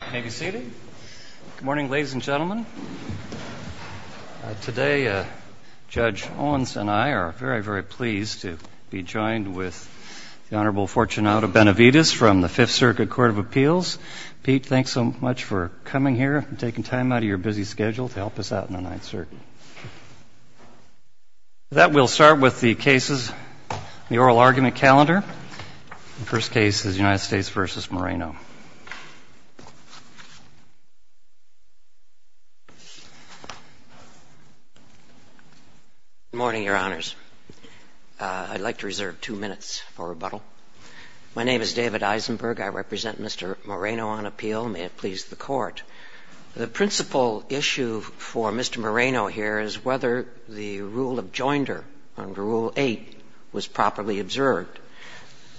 Good morning, ladies and gentlemen. Today, Judge Owens and I are very, very pleased to be joined with the Honorable Fortunato Benavides from the Fifth Circuit Court of Appeals. Pete, thanks so much for coming here and taking time out of your busy schedule to help us out in the Ninth Circuit. With that, we'll start with the cases in the oral argument calendar. The first case is United States v. Moreno. Good morning, Your Honors. I'd like to reserve two minutes for rebuttal. My name is David Eisenberg. I represent Mr. Moreno on appeal. May it please the Court. The principal issue for Mr. Moreno here is whether the rule of joinder under Rule 8 was properly observed.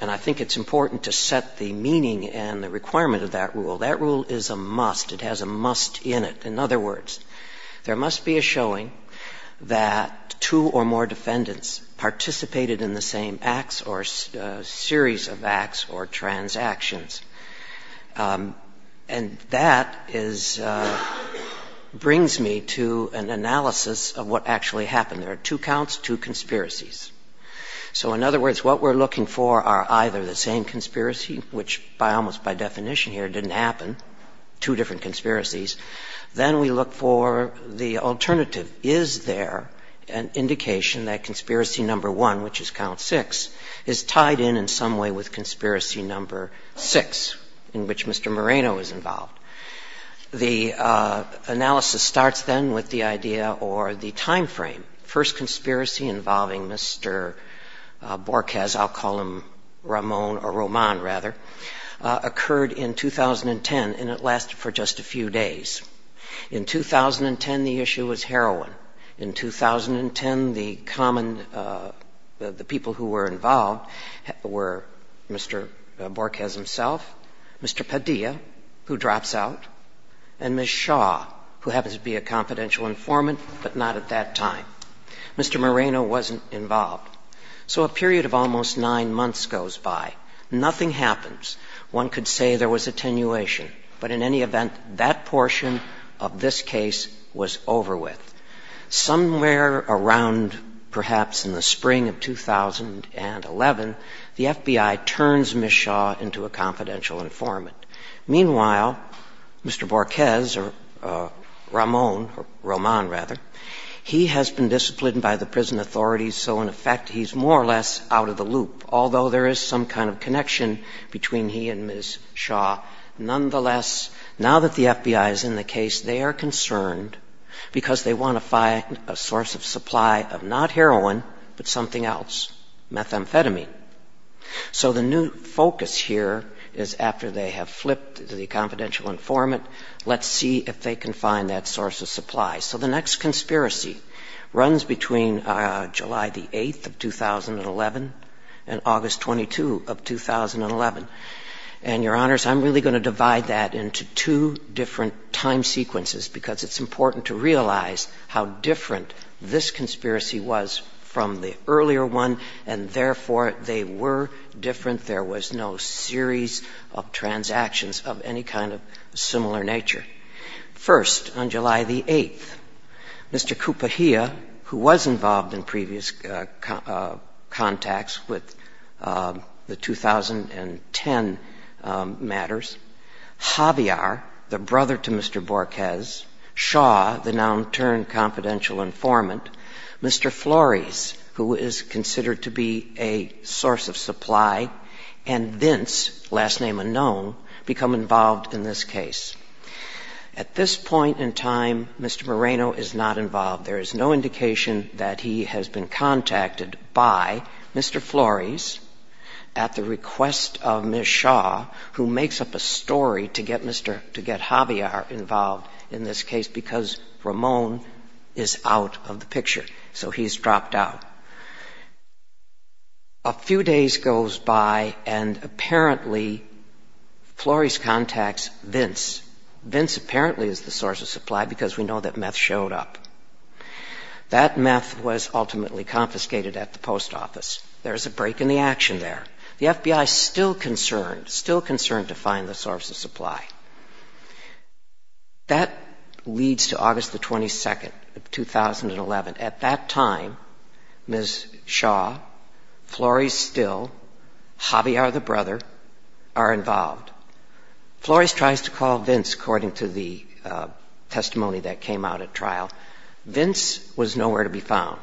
And I think it's important to set the meaning and the requirement of that rule. That rule is a must. It has a must in it. In other words, there must be a showing that two or more defendants participated in the same acts or series of acts or transactions. And that is – brings me to an analysis of what actually happened. There are two counts, two conspiracies. So in other words, what we're looking for are either the same conspiracy, which almost by definition here didn't happen, two different conspiracies. Then we look for the alternative. Is there an indication that Conspiracy No. 1, which is Count 6, is tied in in some way with Conspiracy No. 6, in which Mr. Moreno is involved? The analysis starts then with the idea or the time frame. First conspiracy involving Mr. Borges, I'll call him Ramon or Roman rather, occurred in 2010, and it lasted for just a few days. In 2010, the issue was heroin. In 2010, the common – the people who were involved were Mr. Borges himself, Mr. Padilla, who drops out, and Ms. Shaw, who happens to be a confidential informant, but not at that time. Mr. Moreno wasn't involved. So a period of almost nine months goes by. Nothing happens. One could say there was attenuation. But in any event, that portion of this case was over with. Somewhere around perhaps in the spring of 2011, the FBI turns Ms. Shaw into a confidential informant. Meanwhile, Mr. Borges or Ramon or Roman rather, he has been disciplined by the prison authorities, so in effect he's more or less out of the loop, although there is some kind of connection between he and Ms. Shaw. Nonetheless, now that the FBI is in the case, they are concerned because they want to find a source of supply of not heroin, but something else, methamphetamine. So the new focus here is after they have flipped to the confidential informant, let's see if they can find that source of supply. So the next conspiracy runs between July the 8th of 2011 and August 22 of 2011. And, Your Honors, I'm really going to divide that into two different time sequences because it's important to realize how different this conspiracy was from the earlier one, and therefore they were different. There was no series of transactions of any kind of similar nature. First, on July the 8th, Mr. Kupahia, who was involved in previous contacts with the 2010 matters, Javier, the brother to Mr. Borges, Shaw, the now-in-turn confidential informant, Mr. Flores, who is considered to be a source of supply, and Vince, last name unknown, become involved in this case. At this point in time, Mr. Moreno is not involved. There is no indication that he has been contacted by Mr. Flores at the request of Ms. Shaw, who makes up a story to get Javier involved in this case because Ramon is out of the picture. So he's dropped out. A few days goes by and apparently Flores contacts Vince. Vince apparently is the source of supply because we know that meth showed up. That meth was ultimately confiscated at the post office. There is a break in the action there. The FBI is still concerned, still concerned to find the source of supply. That leads to August the 22nd of 2011. At that time, Ms. Shaw, Flores still, Javier, the brother, are involved. Flores tries to call Vince, according to the testimony that came out at trial. Vince was nowhere to be found.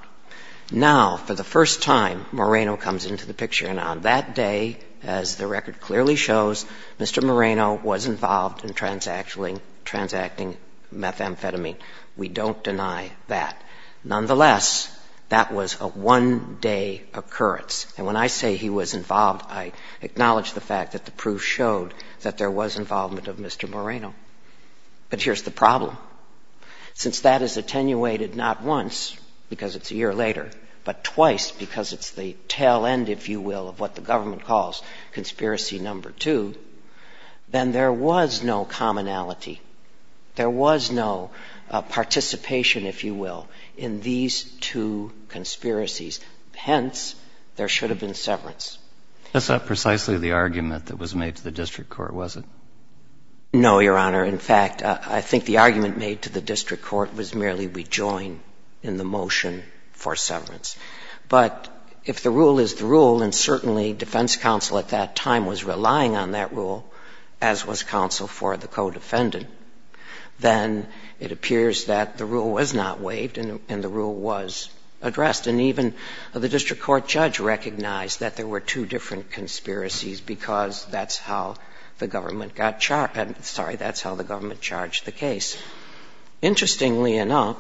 Now, for the first time, Moreno comes into the picture. And on that day, as the record clearly shows, Mr. Moreno was involved in transacting methamphetamine. We don't deny that. Nonetheless, that was a one-day occurrence. And when I say he was involved, I acknowledge the fact that the proof showed that there was involvement of Mr. Moreno. But here's the problem. Since that is attenuated not once, because it's a year later, but twice, because it's the tail end, if you will, of what the government calls conspiracy number two, then there was no commonality. There was no participation, if you will, in these two conspiracies. Hence, there should have been severance. That's not precisely the argument that was made to the district court, was it? No, Your Honor. In fact, I think the argument made to the district court was merely rejoin in the motion for severance. But if the rule is the rule, and certainly defense counsel at that time was relying on that rule, as was counsel for the co-defendant, then it appears that the rule was not waived and the rule was addressed. And even the district court judge recognized that there were two different conspiracies because that's how the government got charged. Sorry, that's how the government charged the case. Interestingly enough,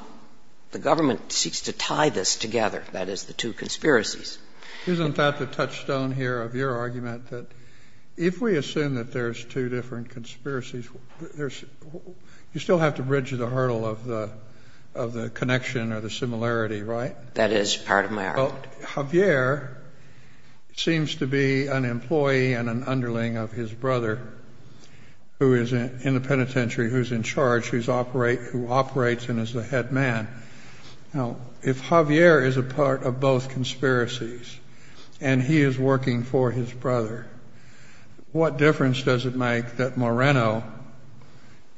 the government seeks to tie this together, that is, the two conspiracies. Isn't that the touchstone here of your argument, that if we assume that there's two different conspiracies, you still have to bridge the hurdle of the connection or the similarity, right? That is part of my argument. Now, Javier seems to be an employee and an underling of his brother who is in the penitentiary, who's in charge, who operates and is the head man. Now, if Javier is a part of both conspiracies and he is working for his brother, what difference does it make that Moreno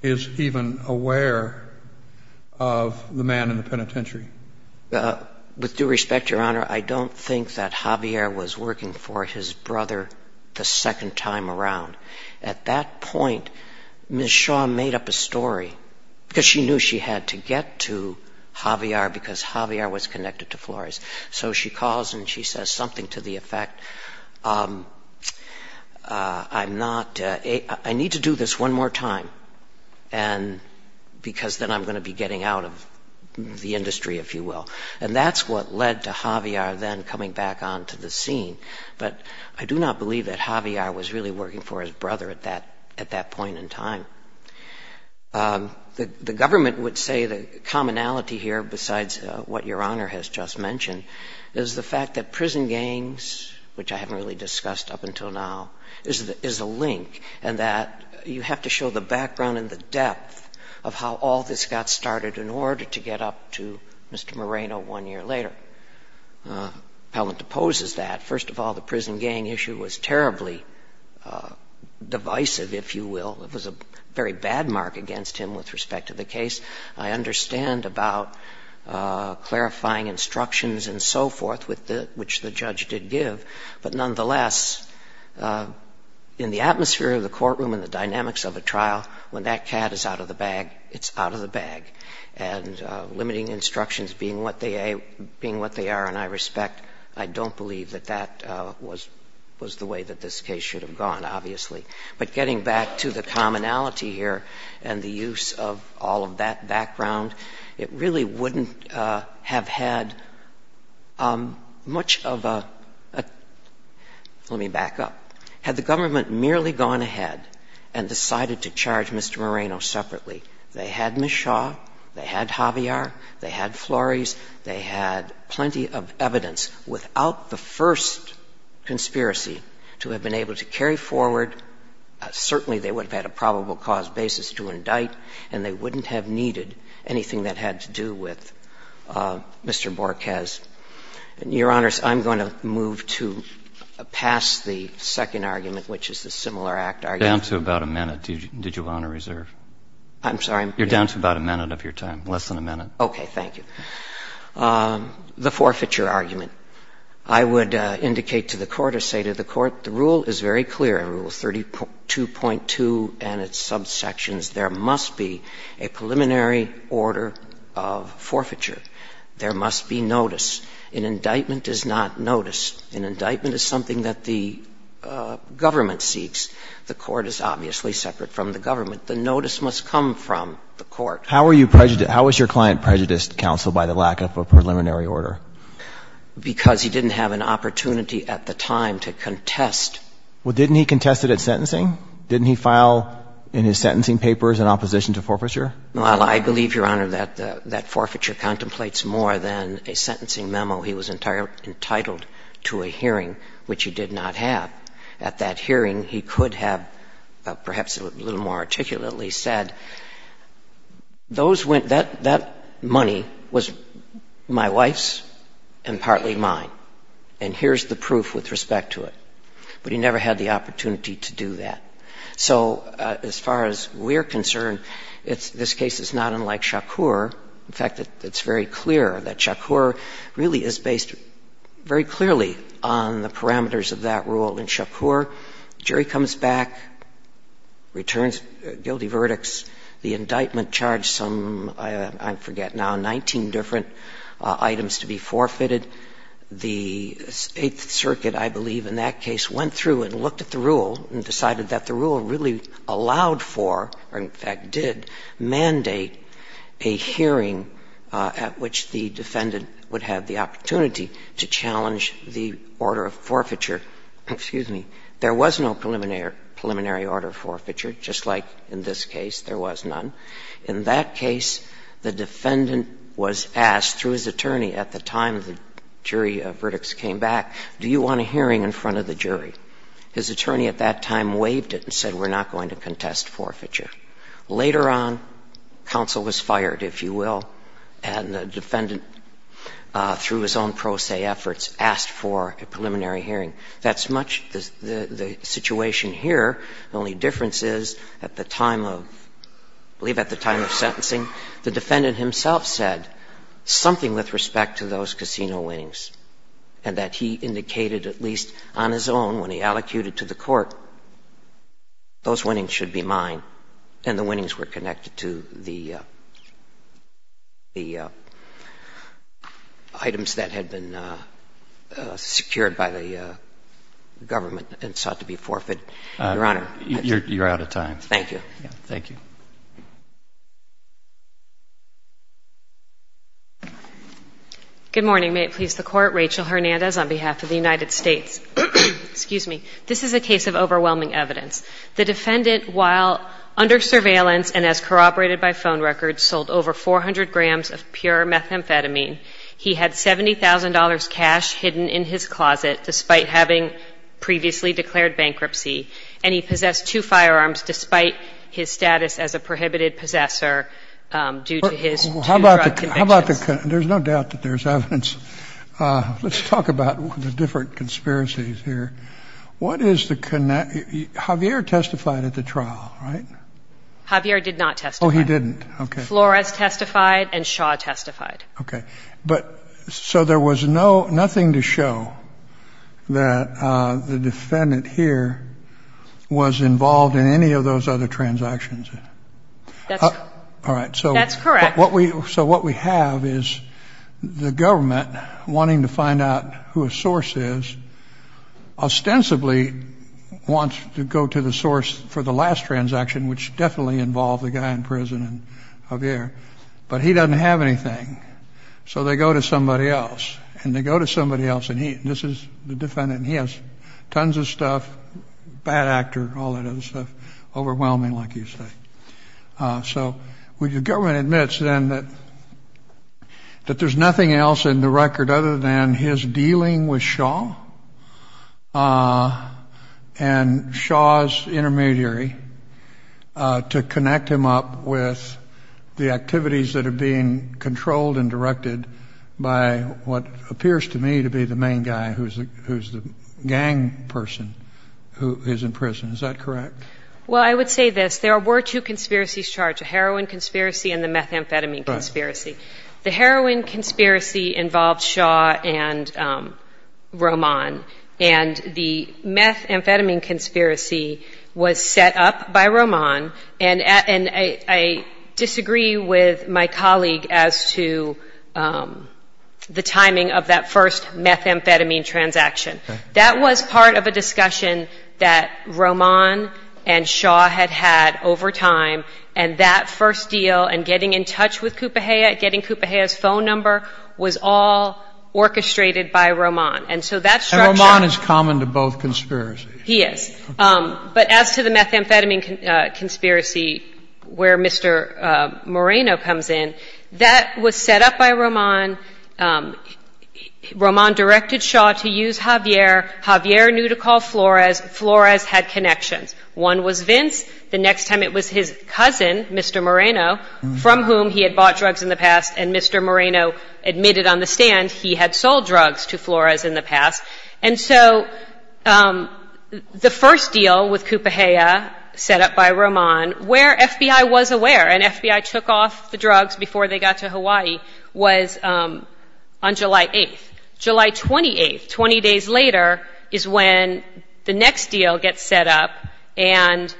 is even aware of the man in the penitentiary? With due respect, Your Honor, I don't think that Javier was working for his brother the second time around. At that point, Ms. Shaw made up a story because she knew she had to get to Javier because Javier was connected to Flores. So she calls and she says something to the effect, I need to do this one more time because then I'm going to be getting out of the industry, if you will. And that's what led to Javier then coming back onto the scene. But I do not believe that Javier was really working for his brother at that point in time. The government would say the commonality here, besides what Your Honor has just mentioned, is the fact that prison gangs, which I haven't really discussed up until now, is a link and that you have to show the background and the depth of how all this got started in order to get up to Mr. Moreno one year later. Appellant opposes that. First of all, the prison gang issue was terribly divisive, if you will. It was a very bad mark against him with respect to the case. I understand about clarifying instructions and so forth, which the judge did give, but nonetheless, in the atmosphere of the courtroom and the dynamics of a trial, when that cat is out of the bag, it's out of the bag. And limiting instructions being what they are and I respect, I don't believe that that was the way that this case should have gone, obviously. But getting back to the commonality here and the use of all of that background, it really wouldn't have had much of a, let me back up. Had the government merely gone ahead and decided to charge Mr. Moreno separately, they had Ms. Shaw, they had Javier, they had Flores, they had plenty of evidence without the first conspiracy to have been able to carry forward, certainly they would have had a probable cause basis to indict, and they wouldn't have needed anything that had to do with Mr. Borges. Your Honors, I'm going to move to pass the second argument, which is the similar act argument. Down to about a minute. Did you want to reserve? I'm sorry? You're down to about a minute of your time, less than a minute. Okay. Thank you. The forfeiture argument. I would indicate to the Court or say to the Court, the rule is very clear. Rule 32.2 and its subsections, there must be a preliminary order of forfeiture. There must be notice. An indictment is not notice. An indictment is something that the government seeks. The Court is obviously separate from the government. The notice must come from the Court. How was your client prejudiced, Counsel, by the lack of a preliminary order? Because he didn't have an opportunity at the time to contest. Well, didn't he contest it at sentencing? Didn't he file in his sentencing papers in opposition to forfeiture? Well, I believe, Your Honor, that forfeiture contemplates more than a sentencing memo. He was entitled to a hearing, which he did not have. At that hearing, he could have perhaps a little more articulately said, those went, that money was my wife's and partly mine, and here's the proof with respect to it. But he never had the opportunity to do that. So as far as we're concerned, this case is not unlike Shakur. In fact, it's very clear that Shakur really is based very clearly on the parameters of that rule. In Shakur, jury comes back, returns guilty verdicts. The indictment charged some, I forget now, 19 different items to be forfeited. The Eighth Circuit, I believe, in that case went through and looked at the rule and decided that the rule really allowed for, or in fact did, mandate a hearing at which the defendant would have the opportunity to challenge the order of forfeiture. Excuse me. There was no preliminary order of forfeiture, just like in this case there was none. In that case, the defendant was asked through his attorney at the time the jury verdicts came back, do you want a hearing in front of the jury? His attorney at that time waived it and said, we're not going to contest forfeiture. Later on, counsel was fired, if you will, and the defendant, through his own pro se efforts, asked for a preliminary hearing. That's much the situation here. The only difference is at the time of, I believe at the time of sentencing, the defendant himself said something with respect to those casino winnings and that he indicated at least on his own when he allocated to the court, those winnings should be mine, and the winnings were connected to the items that had been secured by the government and sought to be forfeit. Your Honor. You're out of time. Thank you. Thank you. Good morning. May it please the Court. Rachel Hernandez on behalf of the United States. Excuse me. This is a case of overwhelming evidence. The defendant, while under surveillance and as corroborated by phone records, sold over 400 grams of pure methamphetamine. He had $70,000 cash hidden in his closet despite having previously declared bankruptcy, and he possessed two firearms despite his status as a prohibited possessor due to his two drug convictions. Well, how about the con – there's no doubt that there's evidence. Let's talk about the different conspiracies here. What is the – Javier testified at the trial, right? Javier did not testify. Oh, he didn't. Okay. Flores testified and Shaw testified. Okay. But so there was nothing to show that the defendant here was involved in any of those other transactions? That's correct. All right. So what we have is the government wanting to find out who his source is, ostensibly wants to go to the source for the last transaction, which definitely involved the guy in prison and Javier, but he doesn't have anything. So they go to somebody else, and they go to somebody else, and this is the defendant, and he has tons of stuff, bad actor, all that other stuff, overwhelming, like you say. So the government admits then that there's nothing else in the record other than his and Shaw's intermediary to connect him up with the activities that are being controlled and directed by what appears to me to be the main guy who's the gang person who is in prison. Is that correct? Well, I would say this. There were two conspiracies charged, a heroin conspiracy and the methamphetamine conspiracy. Right. The heroin conspiracy involved Shaw and Roman, and the methamphetamine conspiracy was set up by Roman, and I disagree with my colleague as to the timing of that first methamphetamine transaction. That was part of a discussion that Roman and Shaw had had over time, and that first deal and getting in touch with Coupeja, getting Coupeja's phone number, was all orchestrated by Roman. And so that's structured. And Roman is common to both conspiracies. He is. But as to the methamphetamine conspiracy where Mr. Moreno comes in, that was set up by Roman. Roman directed Shaw to use Javier. Javier knew to call Flores. Flores had connections. One was Vince. The next time it was his cousin, Mr. Moreno, from whom he had bought drugs in the past, and Mr. Moreno admitted on the stand he had sold drugs to Flores in the past. And so the first deal with Coupeja set up by Roman, where FBI was aware and FBI took off the drugs before they got to Hawaii, was on July 8th. July 28th, 20 days later, is when the next deal gets set up, and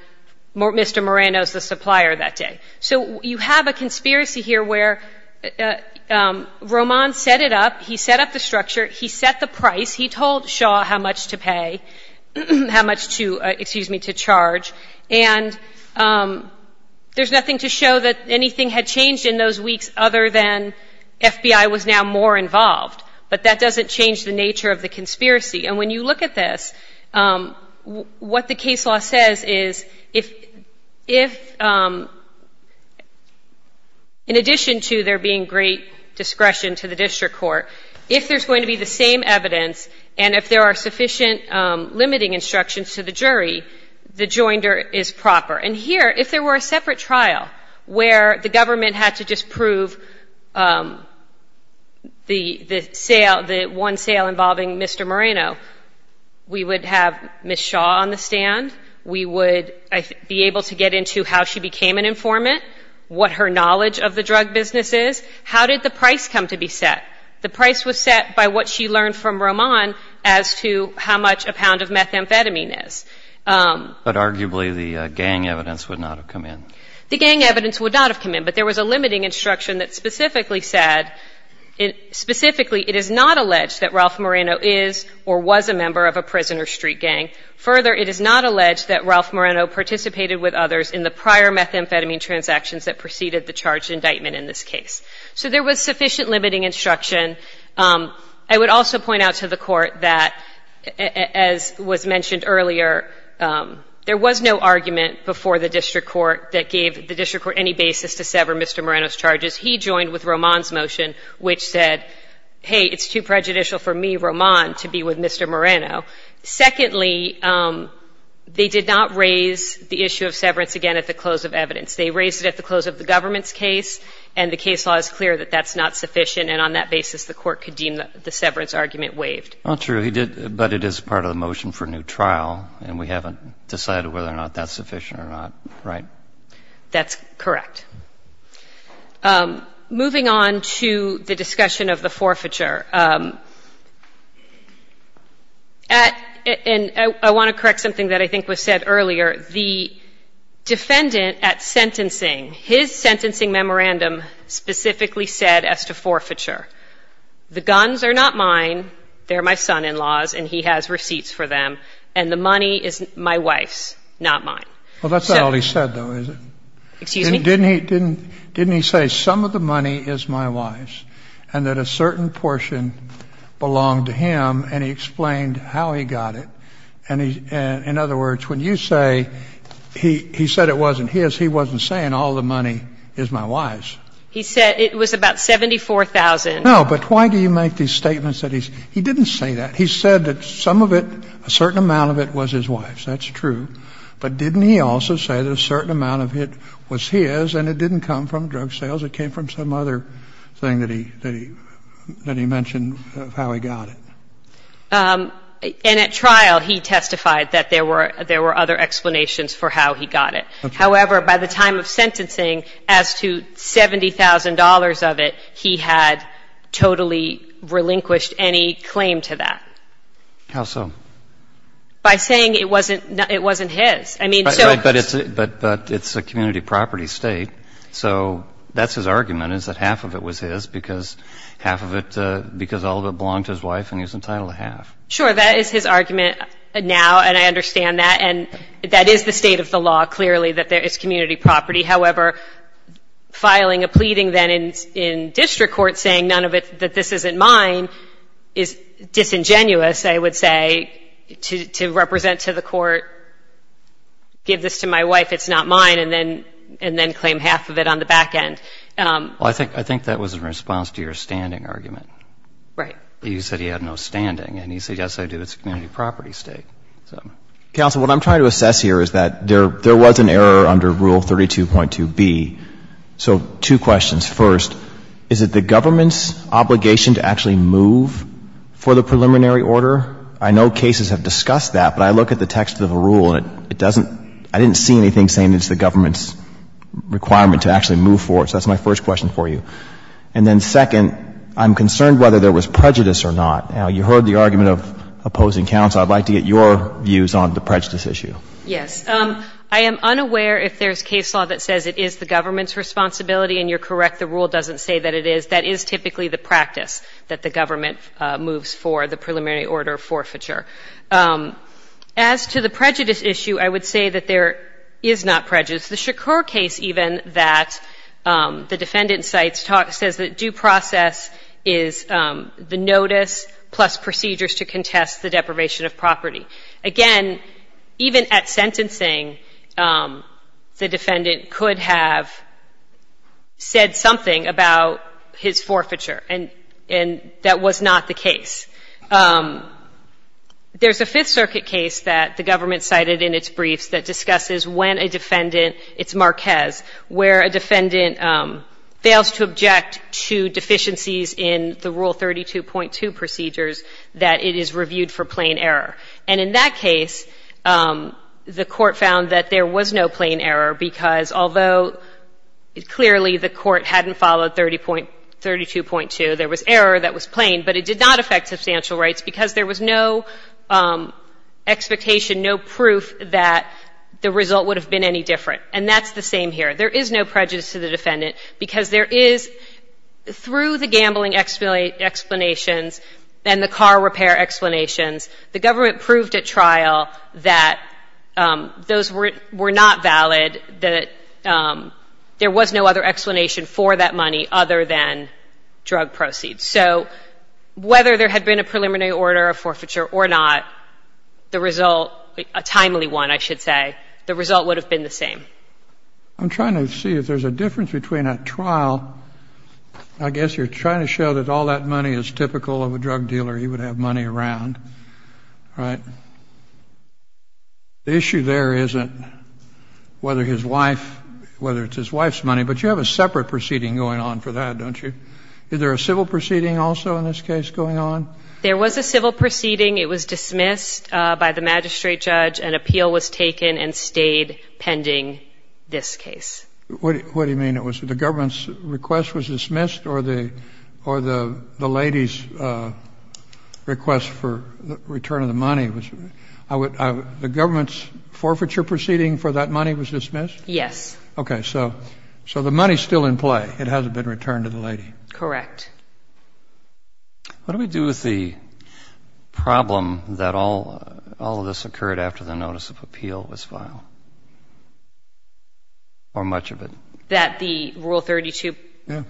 Mr. Moreno is the supplier that day. So you have a conspiracy here where Roman set it up. He set up the structure. He set the price. He told Shaw how much to pay, how much to, excuse me, to charge. And there's nothing to show that anything had changed in those weeks other than FBI was now more involved. But that doesn't change the nature of the conspiracy. And when you look at this, what the case law says is if, in addition to there being great discretion to the district court, if there's going to be the same evidence and if there are sufficient limiting instructions to the jury, the joinder is proper. And here, if there were a separate trial where the government had to just prove the sale, the one sale involving Mr. Moreno, we would have Ms. Shaw on the stand. We would be able to get into how she became an informant, what her knowledge of the drug business is, how did the price come to be set. The price was set by what she learned from Roman as to how much a pound of methamphetamine is. But arguably the gang evidence would not have come in. The gang evidence would not have come in. But there was a limiting instruction that specifically said, specifically, it is not alleged that Ralph Moreno is or was a member of a prison or street gang. Further, it is not alleged that Ralph Moreno participated with others in the prior methamphetamine transactions that preceded the charged indictment in this case. So there was sufficient limiting instruction. I would also point out to the Court that, as was mentioned earlier, there was no argument before the district court that gave the district court any basis to sever Mr. Moreno's charges. He joined with Roman's motion, which said, hey, it's too prejudicial for me, Roman, to be with Mr. Moreno. Secondly, they did not raise the issue of severance again at the close of evidence. They raised it at the close of the government's case, and the case law is clear that that's not sufficient, and on that basis the Court could deem the severance argument waived. Not true. He did, but it is part of the motion for new trial, and we haven't decided whether or not that's sufficient or not. Right? That's correct. Moving on to the discussion of the forfeiture, and I want to correct something that I think was said earlier. The defendant at sentencing, his sentencing memorandum specifically said as to forfeiture, the guns are not mine, they're my son-in-law's, and he has receipts for them, and the money is my wife's, not mine. Well, that's not all he said, though, is it? Excuse me? Didn't he say some of the money is my wife's, and that a certain portion belonged to him, and he explained how he got it. And in other words, when you say he said it wasn't his, he wasn't saying all the money is my wife's. He said it was about $74,000. No, but why do you make these statements that he's – he didn't say that. He said that some of it, a certain amount of it was his wife's. That's true. But didn't he also say that a certain amount of it was his, and it didn't come from drug sales. It came from some other thing that he mentioned of how he got it. And at trial, he testified that there were other explanations for how he got it. However, by the time of sentencing, as to $70,000 of it, he had totally relinquished any claim to that. How so? By saying it wasn't his. I mean, so – But it's a community property state, so that's his argument, is that half of it was his, because half of it – because all of it belonged to his wife, and he was entitled to half. Sure, that is his argument now, and I understand that. And that is the state of the law, clearly, that there is community property. However, filing a pleading then in district court saying none of it – that this isn't mine is disingenuous, I would say, to represent to the court, give this to my wife, it's not mine, and then claim half of it on the back end. Well, I think that was in response to your standing argument. Right. You said he had no standing. And he said, yes, I do. It's a community property state. Counsel, what I'm trying to assess here is that there was an error under Rule 32.2B. So two questions. First, is it the government's obligation to actually move for the preliminary order? I know cases have discussed that, but I look at the text of the rule, and it doesn't – I didn't see anything saying it's the government's requirement to actually move for it. So that's my first question for you. And then second, I'm concerned whether there was prejudice or not. Now, you heard the argument of opposing counsel. I'd like to get your views on the prejudice issue. Yes. I am unaware if there's case law that says it is the government's responsibility, and you're correct, the rule doesn't say that it is. That is typically the practice that the government moves for, the preliminary order forfeiture. As to the prejudice issue, I would say that there is not prejudice. The Shakur case, even, that the defendant cites says that due process is the notice plus procedures to contest the deprivation of property. Again, even at sentencing, the defendant could have said something about his forfeiture, and that was not the case. There's a Fifth Circuit case that the government cited in its briefs that discusses when a defendant – it's Marquez – where a defendant fails to object to deficiencies in the Rule 32.2 procedures that it is reviewed for plain error. And in that case, the court found that there was no plain error, because although clearly the court hadn't followed 32.2, there was error that was plain, but it did not affect substantial rights, because there was no expectation, no proof that the result would have been any different. And that's the same here. There is no prejudice to the defendant, because there is – through the gambling explanations and the car repair explanations, the government proved at trial that those were not valid, that there was no other explanation for that money other than drug proceeds. So whether there had been a preliminary order of forfeiture or not, the result – a timely one, I should say – the result would have been the same. I'm trying to see if there's a difference between a trial – I guess you're trying to show that all that money is typical of a drug dealer. He would have money around, right? The issue there isn't whether his wife – whether it's his wife's money, but you have a separate proceeding going on for that, don't you? Is there a civil proceeding also in this case going on? There was a civil proceeding. It was dismissed by the magistrate judge. An appeal was taken and stayed pending this case. What do you mean? It was – the government's request was dismissed, or the lady's request for return of the money was – the government's forfeiture proceeding for that money was dismissed? Yes. Okay. So the money's still in play. It hasn't been returned to the lady. Correct. What do we do with the problem that all of this occurred after the notice of appeal was filed, or much of it? That the Rule 32? Yeah.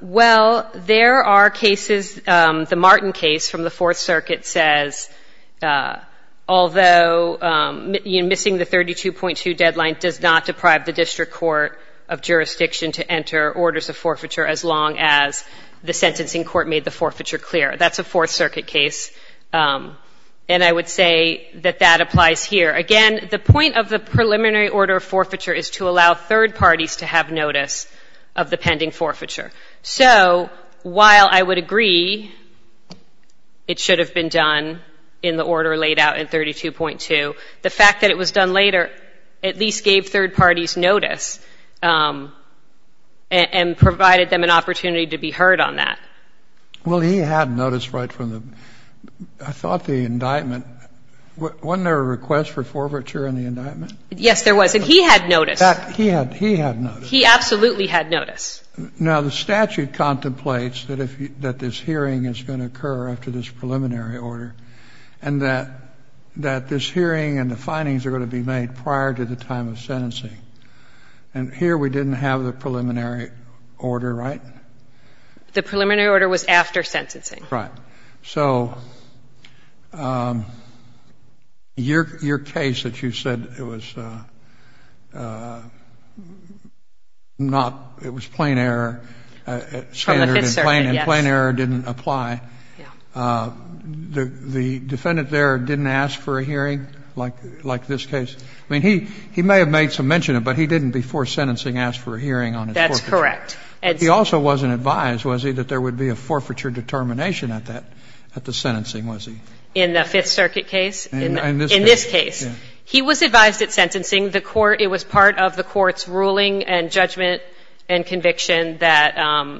Well, there are cases – the Martin case from the Fourth Circuit says, although missing the 32.2 deadline does not deprive the district court of jurisdiction to enter orders of forfeiture as long as the sentencing court made the forfeiture clear. That's a Fourth Circuit case, and I would say that that applies here. Again, the point of the preliminary order of forfeiture is to allow third parties to have notice of the pending forfeiture. So while I would agree it should have been done in the order laid out in 32.2, the fact that it was done later at least gave third parties notice and provided them an opportunity to be heard on that. Well, he had notice right from the – I thought the indictment – wasn't there a request for forfeiture in the indictment? Yes, there was, and he had notice. He had notice. He absolutely had notice. Now, the statute contemplates that this hearing is going to occur after this preliminary order and that this hearing and the findings are going to be made prior to the time of sentencing. And here we didn't have the preliminary order, right? The preliminary order was after sentencing. Right. So your case that you said it was not – it was plain error. From the Fifth Circuit, yes. And plain error didn't apply. Yeah. The defendant there didn't ask for a hearing like this case? I mean, he may have made some mention of it, but he didn't before sentencing ask for a hearing on his forfeiture. That's correct. He also wasn't advised, was he, that there would be a forfeiture determination at that – at the sentencing, was he? In the Fifth Circuit case? In this case. In this case. He was advised at sentencing. The court – it was part of the court's ruling and judgment and conviction that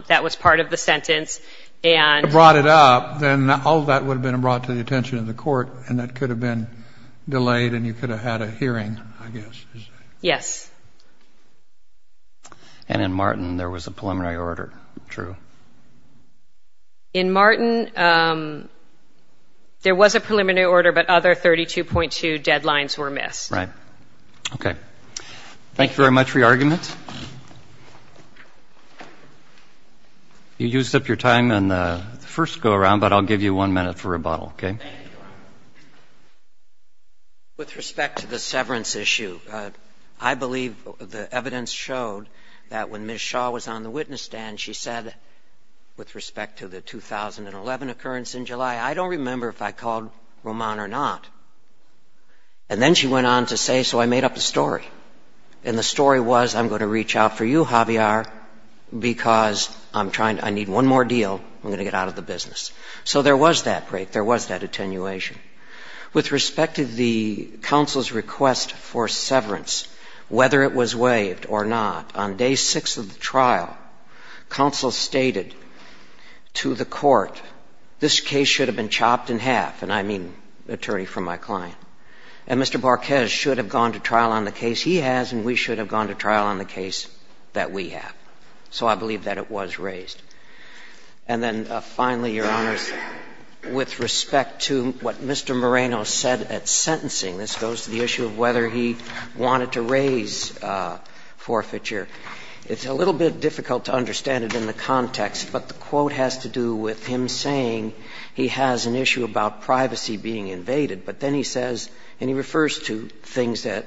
that was part of the sentence and – Brought it up. Then all of that would have been brought to the attention of the court, and that could have been delayed and you could have had a hearing, I guess. Yes. And in Martin, there was a preliminary order, true? In Martin, there was a preliminary order, but other 32.2 deadlines were missed. Right. Okay. Thank you very much for your argument. You used up your time on the first go-around, but I'll give you one minute for rebuttal, okay? Thank you. With respect to the severance issue, I believe the evidence showed that when Ms. Shaw was on the witness stand, she said, with respect to the 2011 occurrence in July, I don't remember if I called Roman or not. And then she went on to say, so I made up a story. And the story was, I'm going to reach out for you, Javier, because I'm trying – I need one more deal, I'm going to get out of the business. So there was that break, there was that attenuation. With respect to the counsel's request for severance, whether it was waived or not, on day six of the trial, counsel stated to the court, this case should have been chopped in half, and I mean attorney from my client, and Mr. Bárquez should have gone to trial on the case he has and we should have gone to trial on the case that we have. So I believe that it was raised. And then finally, Your Honors, with respect to what Mr. Moreno said at sentencing, this goes to the issue of whether he wanted to raise forfeiture, it's a little bit difficult to understand it in the context, but the quote has to do with him saying he has an issue about privacy being invaded, but then he says, and he refers to things that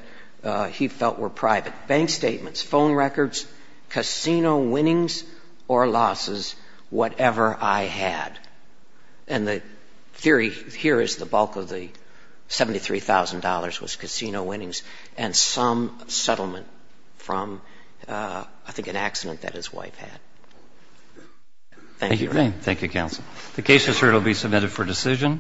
he felt were private, bank statements, phone records, casino winnings or losses, whatever I had. And the theory here is the bulk of the $73,000 was casino winnings and some settlement from, I think, an accident that his wife had. Thank you. Thank you, counsel. The case is heard and will be submitted for decision.